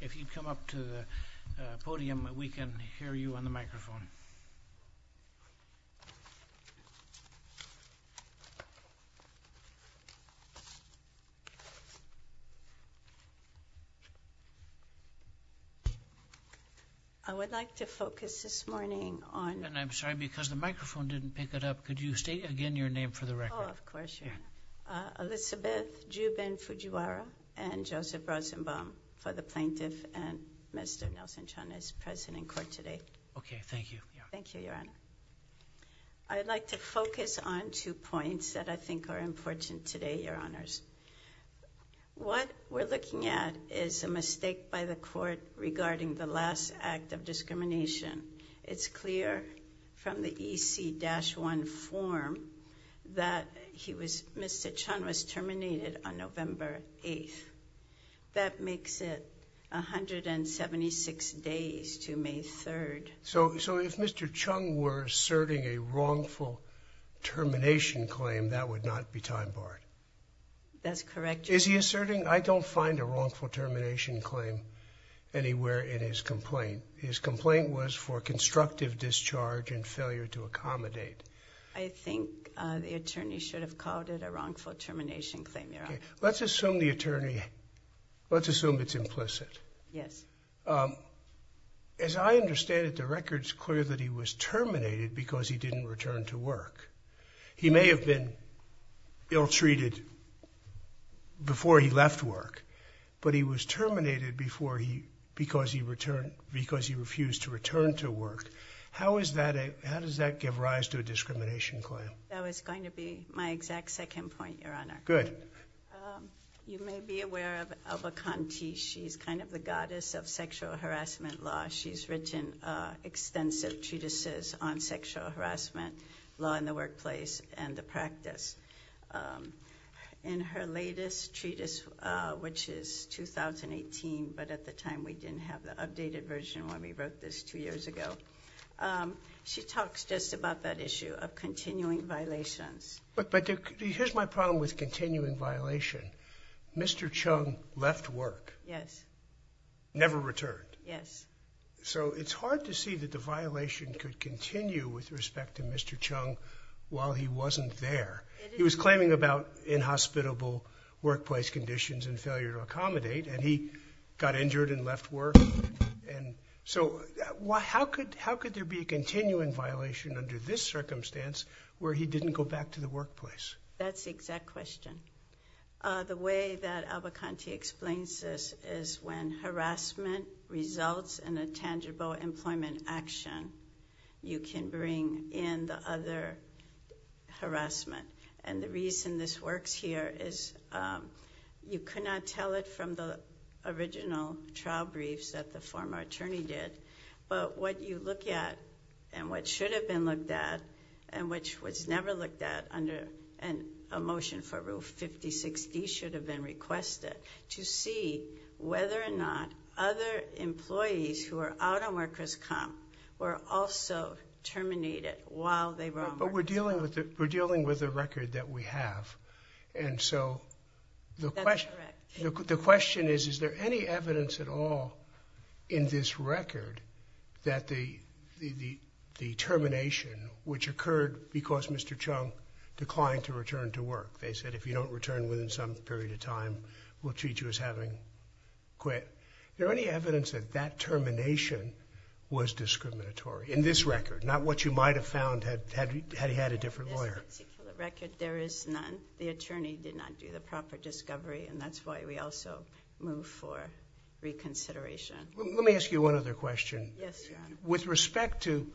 If you'd come up to the podium, we can hear you on the microphone. I would like to focus this morning on... And I'm sorry, because the microphone didn't pick it up. Could you state again your name for the record? Oh, of course, Your Honor. Elizabeth Jubin Fujiwara and Joseph Rosenbaum for the Plaintiff and Mr. Nelson Chung is present in court today. Okay, thank you. Thank you, Your Honor. I'd like to focus on two points that I think are important today, Your Honors. What we're looking at is a mistake by the court regarding the last act of discrimination. It's clear from the EC-1 form that Mr. Chung was terminated on November 8th. That makes it 176 days to May 3rd. So if Mr. Chung were asserting a wrongful termination claim, that would not be time barred? That's correct, Your Honor. Is he asserting... I don't find a wrongful termination claim anywhere in his complaint. His complaint was for constructive discharge and failure to accommodate. I think the attorney should have called it a wrongful termination claim, Your Honor. Let's assume the attorney... Let's assume it's implicit. Yes. As I understand it, the record's clear that he was terminated because he didn't return to work. He may have been ill-treated before he left work, but he was terminated because he refused to return to work. How does that give rise to a discrimination claim? That was going to be my exact second point, Your Honor. Good. You may be aware of Alba Conti. She's kind of the goddess of sexual harassment law. She's written extensive treatises on sexual harassment law in the workplace and the practice. In her latest treatise, which is 2018, but at the time we didn't have the updated version when we wrote this two years ago, she talks just about that issue of continuing violations. Here's my problem with continuing violation. Mr. Chung left work. Yes. Never returned. Yes. It's hard to see that the violation could continue with respect to Mr. Chung while he conditions and failure to accommodate, and he got injured and left work. How could there be a continuing violation under this circumstance where he didn't go back to the workplace? That's the exact question. The way that Alba Conti explains this is when harassment results in a tangible employment action, you can bring in the other harassment. The reason this works here is you cannot tell it from the original trial briefs that the former attorney did, but what you look at and what should have been looked at and which was never looked at under a motion for Rule 5060 should have been requested to see whether or not other employees who are out of workers' comp were also terminated while they were on work. But we're dealing with a record that we have, and so the question is, is there any evidence at all in this record that the termination, which occurred because Mr. Chung declined to return to work. They said if you don't return within some period of time, we'll treat you as having quit. Is there any evidence that that termination was discriminatory in this record, not what you might have found had he had a different lawyer? In this particular record, there is none. The attorney did not do the proper discovery, and that's why we also move for reconsideration. Let me ask you one other question. Yes, Your Honor. With respect to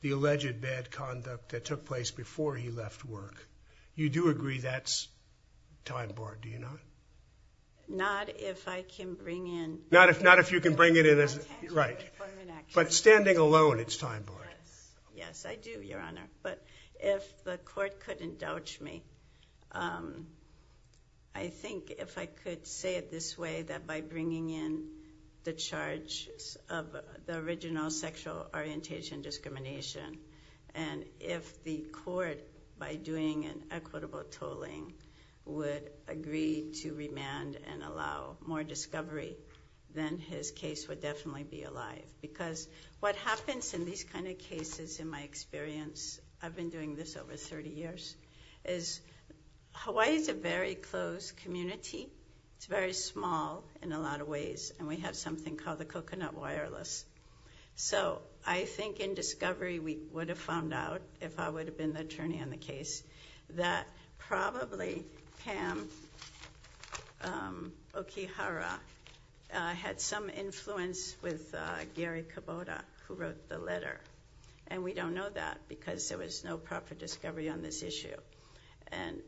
the alleged bad conduct that took place before he left work, you do agree that's time barred, do you not? Not if I can bring in... Not if you can bring it in as... ...tangible employment action. But standing alone, it's time barred. Yes, I do, Your Honor. But if the court could indulge me, I think if I could say it this way, that by bringing in the charge of the original sexual orientation discrimination, and if the court, by doing an equitable tolling, would agree to remand and allow more discovery, then his case would definitely be alive. Because what happens in these kind of cases, in my experience, I've been doing this over thirty years, is Hawaii is a very closed community. It's very small in a lot of ways, and we have something called the coconut wireless. I think in discovery, we would have found out, if I would have been the attorney on the case, that probably Pam Okihara, who is the attorney on the case, had some influence with Gary Kubota, who wrote the letter. And we don't know that, because there was no proper discovery on this issue. And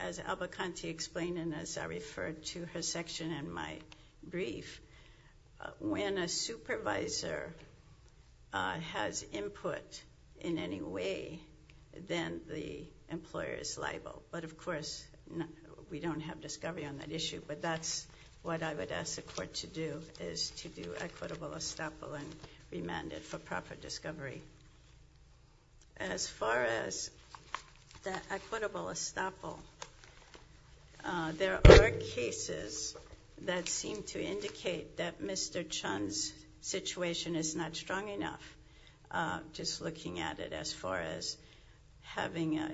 as Alba Conti explained, and as I referred to her section in my brief, when a supervisor has input in any way, then the employer is liable. But of course, we don't have discovery on that issue, but that's what I would ask the court to do, is to do equitable estoppel and remand it for proper discovery. As far as that equitable estoppel, there are cases that seem to indicate that Mr. Chun's situation is not strong enough, just looking at it as far as having a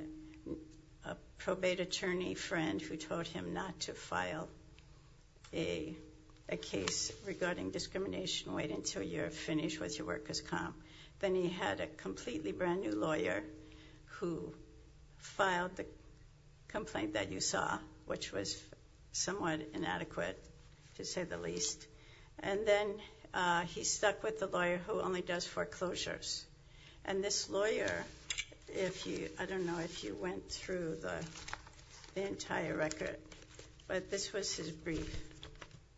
probate attorney friend who told him not to file a case regarding discrimination, wait until you're finished with your workers' comp. Then he had a completely brand new lawyer who filed the complaint that you saw, which was somewhat inadequate, to say the least. And then he stuck with the lawyer who only does foreclosures. And this lawyer, if you, I don't know if you went through the entire record, but this was his brief.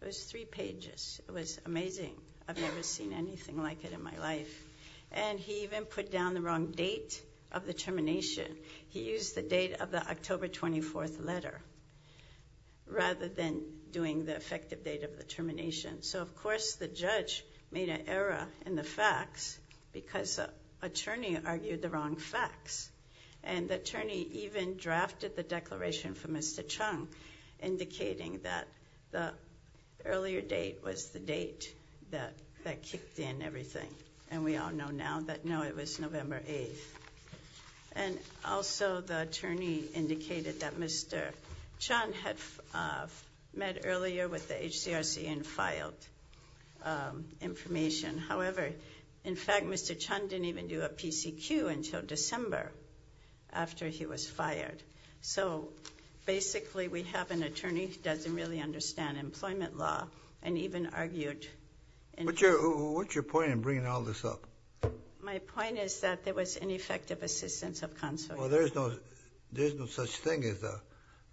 It was three pages. It was amazing. I've never seen anything like it in my life. And he even put down the wrong date of the termination. He used the date of the October 24th letter, rather than doing the effective date of the termination. So of course, the judge made an error in the facts, because the attorney argued the wrong facts. And the attorney even drafted the declaration for Mr. Chun, indicating that the earlier date was the date that kicked in everything. And we all know now that no, it was November 8th. And also, the attorney indicated that Mr. Chun had met earlier with Mr. Chun. So basically, we have an attorney who doesn't really understand employment law and even argued... What's your point in bringing all this up? My point is that there was ineffective assistance of counsel. Well, there's no such thing as a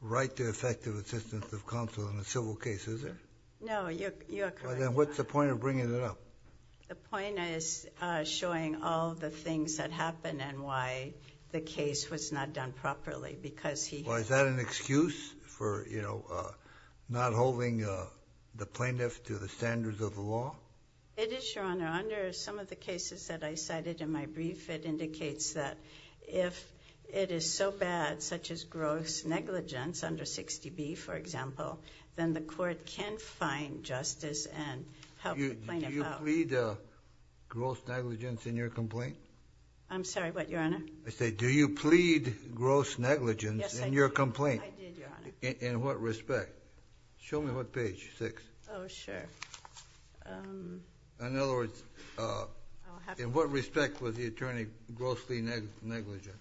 right to effective assistance of counsel in a civil case, is there? No, you're correct. Well, then what's the point of bringing it up? The point is showing all the things that happened and why the case was not done properly, because he... Well, is that an excuse for not holding the plaintiff to the standards of the law? It is, Your Honor. Under some of the cases that I cited in my brief, it indicates that if it is so bad, such as gross negligence under 60B, for example, then the court can find justice and help the plaintiff out. Did you not read gross negligence in your complaint? I'm sorry, what, Your Honor? I said, do you plead gross negligence in your complaint? Yes, I did, Your Honor. In what respect? Show me what page, six. Oh, sure. In other words, in what respect was the attorney grossly negligent?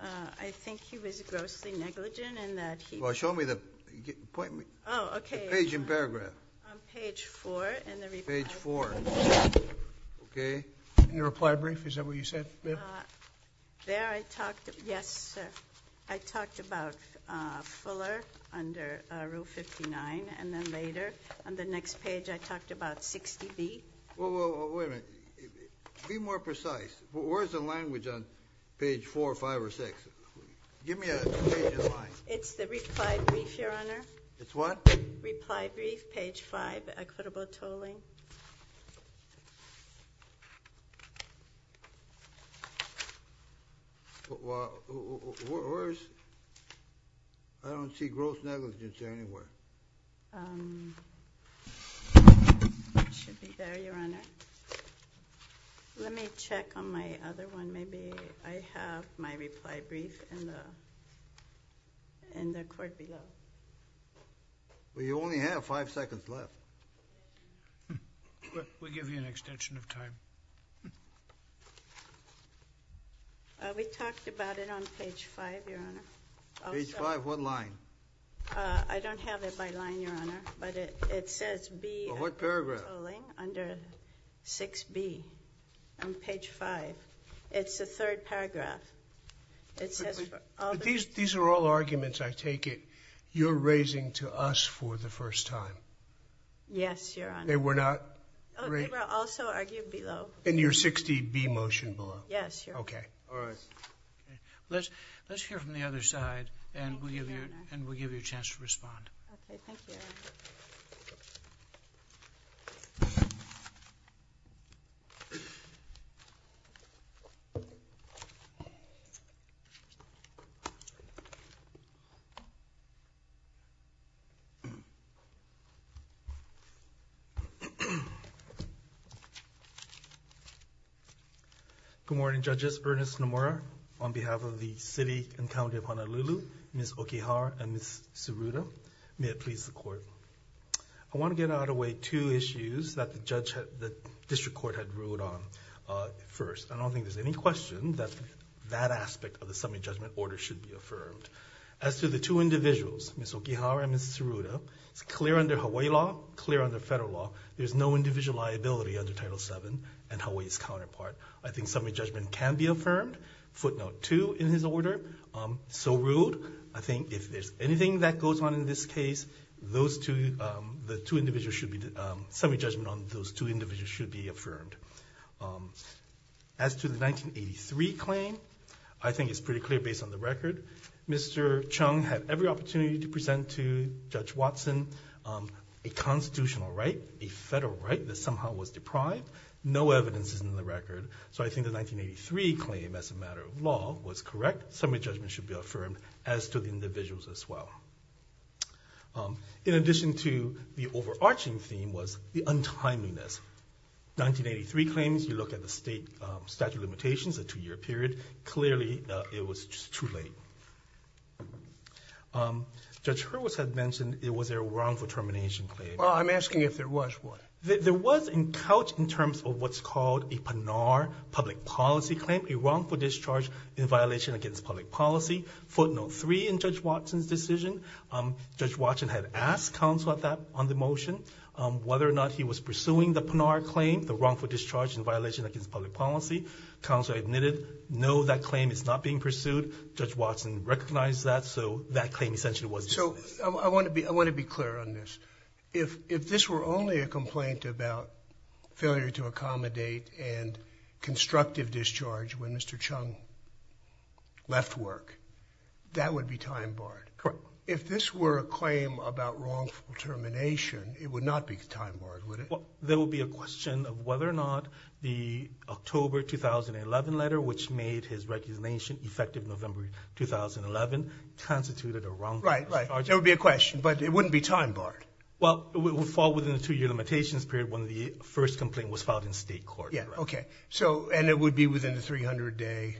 I think he was grossly negligent in that he... Well, show me the... Point me... Oh, okay. The page and paragraph. On page four in the report. Page four. Okay. In your reply brief, is that what you said, ma'am? There I talked... Yes, sir. I talked about Fuller under Rule 59, and then later, on the next page, I talked about 60B. Well, wait a minute. Be more precise. Where's the language on page four, five, or six? Give me a page in line. It's the reply brief, Your Honor. It's what? Reply brief, page five, equitable tolling. Well, where's... I don't see gross negligence anywhere. It should be there, Your Honor. Let me check on my other one. Maybe I have my reply brief in the court below. Well, you only have five seconds left. We'll give you an extension of time. We talked about it on page five, Your Honor. Page five, what line? I don't have it by line, Your Honor, but it says be... Well, what paragraph? ...equitable tolling under 6B on page five. It's the third paragraph. It says... These are all arguments, I take it, you're raising to us for the first time. Yes, Your Honor. They were not... They were also argued below. In your 60B motion below? Yes, Your Honor. Okay. All right. Let's hear from the other side, and we'll give you a chance to respond. Okay. Thank you, Your Honor. Thank you. Good morning, Judges. Ernest Nomura on behalf of the City and County of Honolulu, Ms. Okihara, and Ms. Siruta. May it please the Court. I want to get out of the way two issues that the District Court had ruled on first. I don't think there's any question that that aspect of the Summary Judgment Order should be affirmed. As to the two individuals, Ms. Okihara and Ms. Siruta, it's clear under Hawaii law, clear under federal law, there's no individual liability under Title VII and Hawaii's counterpart. I think Summary Judgment can be affirmed. Footnote two in his order, so ruled. I think if there's anything that goes on in this case, those two... Summary Judgment on those two individuals should be affirmed. As to the 1983 claim, I think it's pretty clear based on the record, Mr. Chung had every opportunity to present to Judge Watson a constitutional right, a federal right that somehow was deprived. No evidence is in the record, so I think the 1983 claim as a matter of law was correct. Summary Judgment should be affirmed as to the individuals as well. In addition to the overarching theme was the untimeliness. 1983 claims, you look at the state statute of limitations, the two-year period, clearly it was just too late. Judge Hurwitz had mentioned it was a wrongful termination claim. Well, I'm asking if there was one. There was in couch in terms of what's called a PANAR public policy claim, a wrongful discharge in violation against public policy. Footnote 3 in Judge Watson's decision, Judge Watson had asked counsel on the motion whether or not he was pursuing the PANAR claim, the wrongful discharge in violation against public policy. Counsel admitted no, that claim is not being pursued. Judge Watson recognized that, so that claim essentially was dismissed. So I want to be clear on this. If this were only a complaint about failure to accommodate and constructive discharge when Mr. Chung left work, that would be time barred. Correct. If this were a claim about wrongful termination, it would not be time barred, would it? There would be a question of whether or not the October 2011 letter, which made his recognition effective November 2011, constituted a wrongful discharge. Right, right. There would be a question, but it wouldn't be time barred. Well, it would fall within the two-year limitations period when the first complaint was filed in state court. Yeah, okay. And it would be within the 300-day?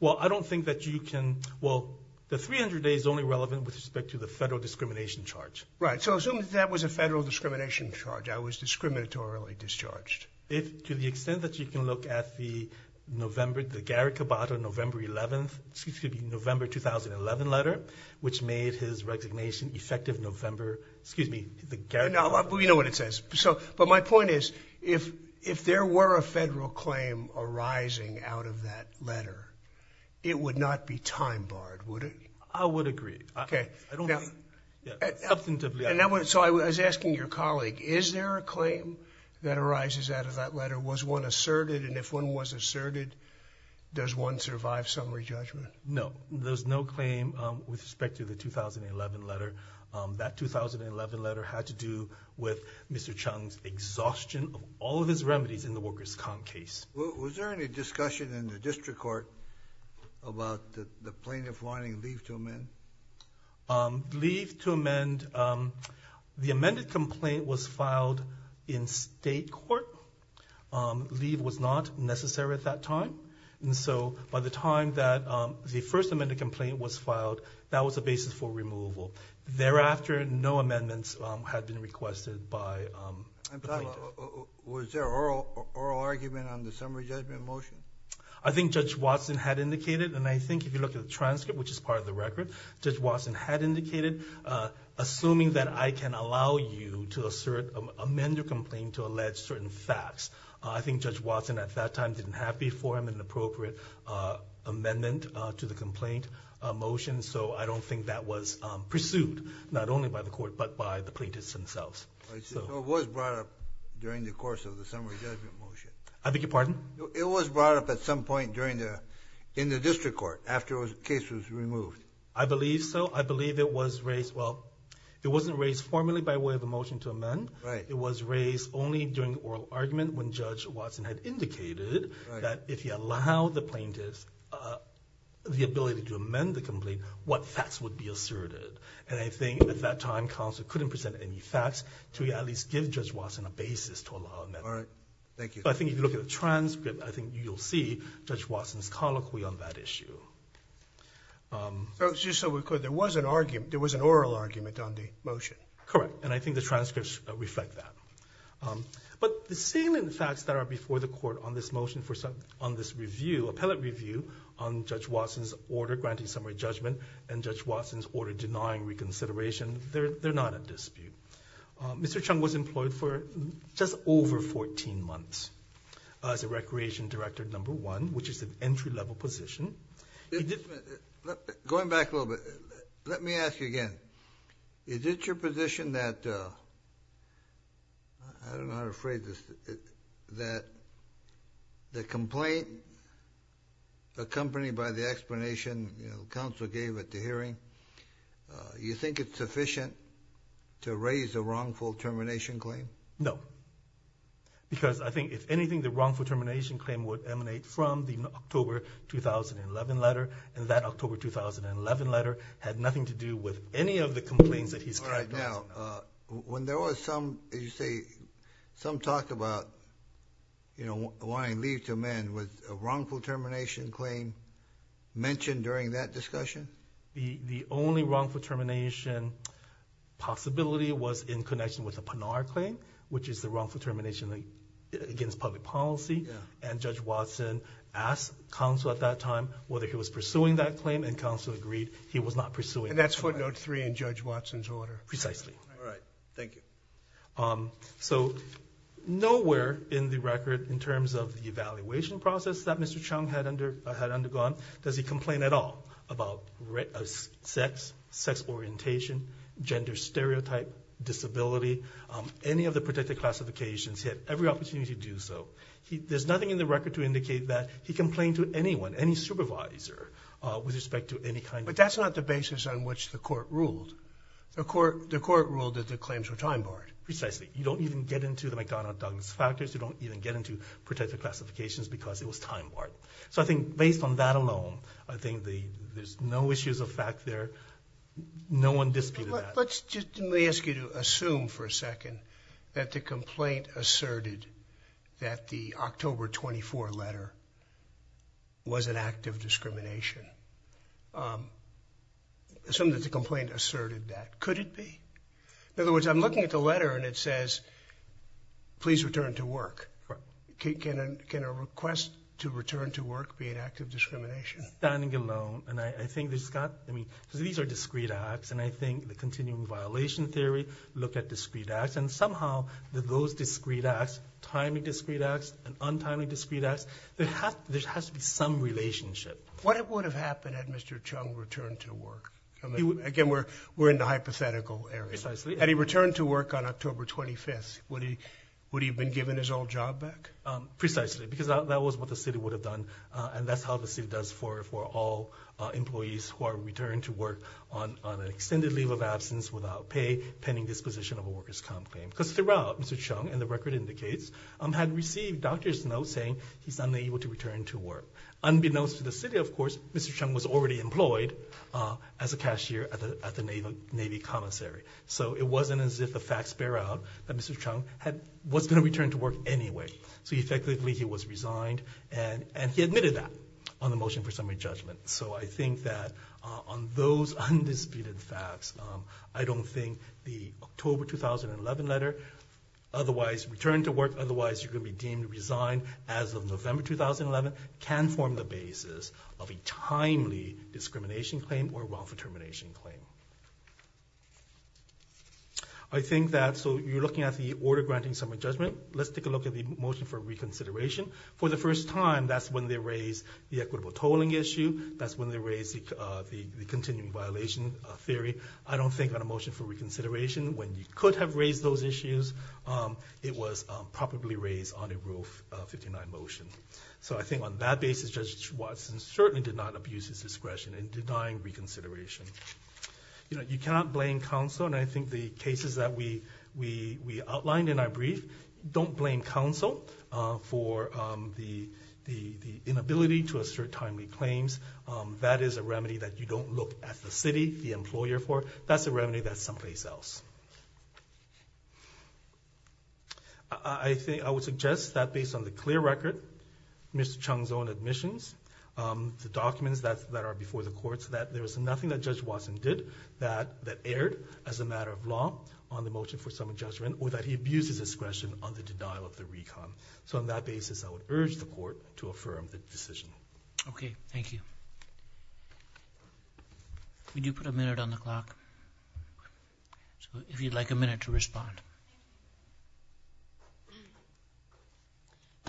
Well, I don't think that you can— well, the 300-day is only relevant with respect to the federal discrimination charge. Right, so assume that that was a federal discrimination charge. I was discriminatorily discharged. To the extent that you can look at the November 2011 letter, which made his recognition effective November— Well, you know what it says. But my point is, if there were a federal claim arising out of that letter, it would not be time barred, would it? I would agree. Okay. I don't think— So I was asking your colleague, is there a claim that arises out of that letter? Was one asserted? And if one was asserted, does one survive summary judgment? No, there's no claim with respect to the 2011 letter. That 2011 letter had to do with Mr. Chung's exhaustion of all of his remedies in the workers' comp case. Was there any discussion in the district court about the plaintiff wanting leave to amend? Leave to amend—the amended complaint was filed in state court. Leave was not necessary at that time. And so by the time that the first amended complaint was filed, that was the basis for removal. Thereafter, no amendments had been requested by the plaintiff. Was there oral argument on the summary judgment motion? I think Judge Watson had indicated, and I think if you look at the transcript, which is part of the record, Judge Watson had indicated, assuming that I can allow you to amend your complaint to allege certain facts. I think Judge Watson at that time didn't have before him an appropriate amendment to the complaint motion, and so I don't think that was pursued, not only by the court, but by the plaintiffs themselves. So it was brought up during the course of the summary judgment motion. I beg your pardon? It was brought up at some point during the—in the district court, after the case was removed. I believe so. I believe it was raised—well, it wasn't raised formally by way of a motion to amend. Right. It was raised only during oral argument when Judge Watson had indicated that if you allow the plaintiffs the ability to amend the complaint, what facts would be asserted. And I think at that time, counsel couldn't present any facts to at least give Judge Watson a basis to allow amendment. All right. Thank you. I think if you look at the transcript, I think you'll see Judge Watson's colloquy on that issue. Just so we're clear, there was an argument—there was an oral argument on the motion. Correct, and I think the transcripts reflect that. But the salient facts that are before the court on this motion, on this review, appellate review, on Judge Watson's order granting summary judgment and Judge Watson's order denying reconsideration, they're not at dispute. Mr. Chung was employed for just over 14 months as a recreation director number one, which is an entry-level position. Going back a little bit, let me ask you again. Is it your position that—I don't know how to phrase this—that the complaint accompanied by the explanation counsel gave at the hearing, you think it's sufficient to raise a wrongful termination claim? No, because I think if anything, the wrongful termination claim would emanate from the October 2011 letter, and that October 2011 letter had nothing to do with any of the complaints that he's— All right. Now, when there was some, as you say, some talk about wanting leave to amend, was a wrongful termination claim mentioned during that discussion? The only wrongful termination possibility was in connection with the Panar claim, which is the wrongful termination against public policy. And Judge Watson asked counsel at that time whether he was pursuing that claim, and counsel agreed he was not pursuing that claim. And that's footnote three in Judge Watson's order? Precisely. All right. Thank you. So nowhere in the record, in terms of the evaluation process that Mr. Chung had undergone, does he complain at all about sex, sex orientation, gender stereotype, disability, any of the protected classifications. He had every opportunity to do so. There's nothing in the record to indicate that he complained to anyone, any supervisor, with respect to any kind of— But that's not the basis on which the court ruled. The court ruled that the claims were time-barred. Precisely. You don't even get into the McDonough-Douglas factors. You don't even get into protected classifications because it was time-barred. So I think based on that alone, I think there's no issues of fact there. No one disputed that. Let me ask you to assume for a second that the complaint asserted that the October 24 letter was an act of discrimination. Assume that the complaint asserted that. Could it be? In other words, I'm looking at the letter and it says, please return to work. Can a request to return to work be an act of discrimination? Standing alone, and I think there's got—I mean, because these are discrete acts, and I think the continuing violation theory looked at discrete acts, and somehow those discrete acts, timely discrete acts and untimely discrete acts, there has to be some relationship. What would have happened had Mr. Chung returned to work? Again, we're in the hypothetical area. Precisely. Had he returned to work on October 25th, would he have been given his old job back? Precisely, because that was what the city would have done, and that's how the city does for all employees who are returned to work on an extended leave of absence without pay, pending disposition of a worker's complaint. Because throughout, Mr. Chung, and the record indicates, had received doctor's notes saying he's unable to return to work. Unbeknownst to the city, of course, Mr. Chung was already employed as a cashier at the Navy commissary. So it wasn't as if the facts bear out that Mr. Chung was going to return to work anyway. So effectively, he was resigned, and he admitted that on the motion for summary judgment. So I think that on those undisputed facts, I don't think the October 2011 letter, otherwise return to work, otherwise you're going to be deemed resigned as of November 2011, can form the basis of a timely discrimination claim or wrongful termination claim. I think that, so you're looking at the order granting summary judgment. Let's take a look at the motion for reconsideration. For the first time, that's when they raised the equitable tolling issue. That's when they raised the continuing violation theory. I don't think on a motion for reconsideration, when you could have raised those issues, it was probably raised on a Rule 59 motion. So I think on that basis, Judge Watson certainly did not abuse his discretion in denying reconsideration. You cannot blame counsel, and I think the cases that we outlined in our brief, don't blame counsel for the inability to assert timely claims. That is a remedy that you don't look at the city, the employer for. That's a remedy that's someplace else. I would suggest that based on the clear record, Mr. Chung's own admissions, the documents that are before the courts, that there was nothing that Judge Watson did that erred as a matter of law on the motion for summary judgment, or that he abused his discretion on the denial of the recon. So on that basis, I would urge the court to affirm the decision. Okay, thank you. We do put a minute on the clock. So if you'd like a minute to respond.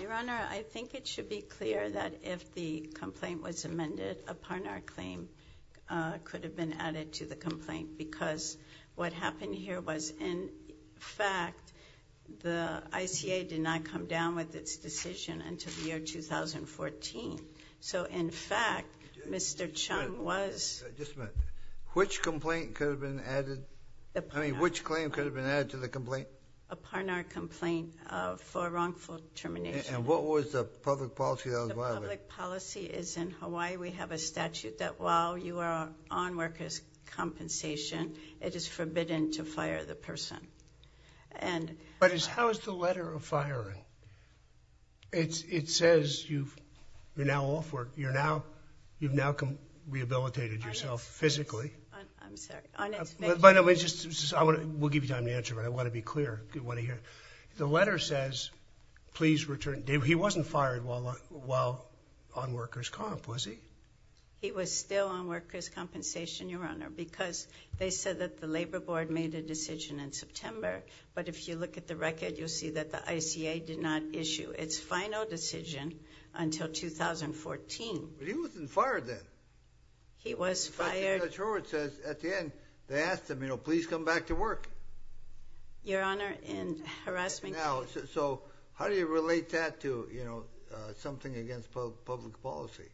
Your Honor, I think it should be clear that if the complaint was amended upon our claim, it could have been added to the complaint, because what happened here was in fact, the ICA did not come down with its decision until the year 2014. So in fact, Mr. Chung was... I mean, which claim could have been added to the complaint? Upon our complaint for wrongful termination. And what was the public policy that was violated? The public policy is in Hawaii. We have a statute that while you are on workers' compensation, it is forbidden to fire the person. But how is the letter of firing? It says you're now off work, you've now rehabilitated yourself physically. I'm sorry. By the way, we'll give you time to answer, but I want to be clear. The letter says, please return... He wasn't fired while on workers' comp, was he? He was still on workers' compensation, Your Honor, because they said that the Labor Board made a decision in September, but if you look at the record, you'll see that the ICA did not issue its final decision until 2014. But he wasn't fired then. He was fired... In fact, Judge Howard says at the end, they asked him, you know, please come back to work. Your Honor, in harassment... Now, so how do you relate that to, you know, something against public policy?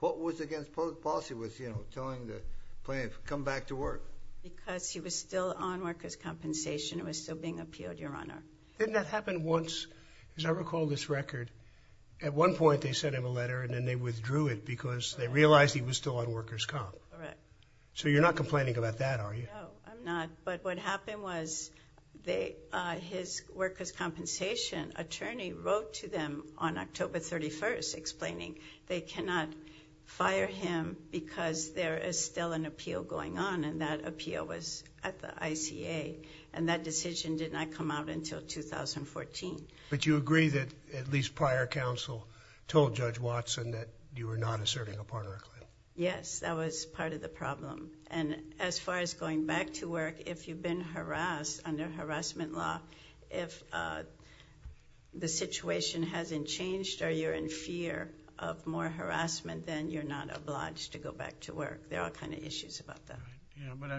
What was against public policy was, you know, telling the plaintiff come back to work. Because he was still on workers' compensation. It was still being appealed, Your Honor. Didn't that happen once? As I recall this record, at one point they sent him a letter and then they withdrew it because they realized he was still on workers' comp. Correct. So you're not complaining about that, are you? No, I'm not. But what happened was his workers' compensation attorney wrote to them on October 31st explaining they cannot fire him because there is still an appeal going on, and that appeal was at the ICA, and that decision did not come out until 2014. But you agree that at least prior counsel told Judge Watson that you were not asserting a partner claim. Yes, that was part of the problem. And as far as going back to work, if you've been harassed under harassment law, if the situation hasn't changed or you're in fear of more harassment, then you're not obliged to go back to work. There are all kinds of issues about that. Yeah, but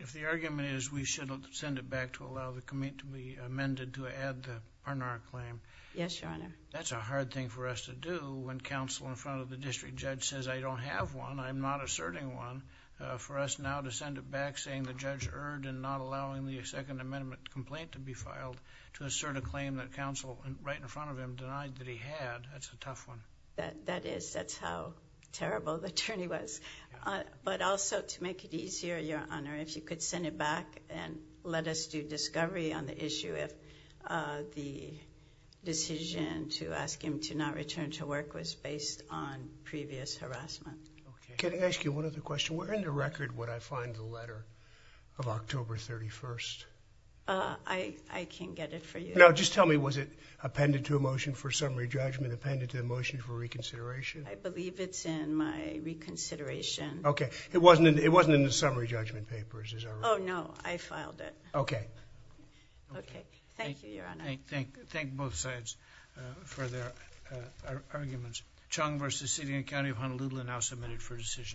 if the argument is we should send it back to allow the committee to be amended to add the partner claim, that's a hard thing for us to do when counsel in front of the district judge says, I don't have one, I'm not asserting one. For us now to send it back saying the judge erred in not allowing the Second Amendment complaint to be filed to assert a claim that counsel right in front of him denied that he had, that's a tough one. That is. That's how terrible the journey was. But also to make it easier, Your Honor, if you could send it back and let us do discovery on the issue if the decision to ask him to not return to work was based on previous harassment. Can I ask you one other question? Where in the record would I find the letter of October 31st? I can get it for you. No, just tell me, was it appended to a motion for summary judgment, appended to a motion for reconsideration? I believe it's in my reconsideration. Okay. It wasn't in the summary judgment papers, is that right? Oh, no. I filed it. Okay. Okay. Thank you, Your Honor. Thank both sides for their arguments. Chung v. City and County of Honolulu now submitted for decision.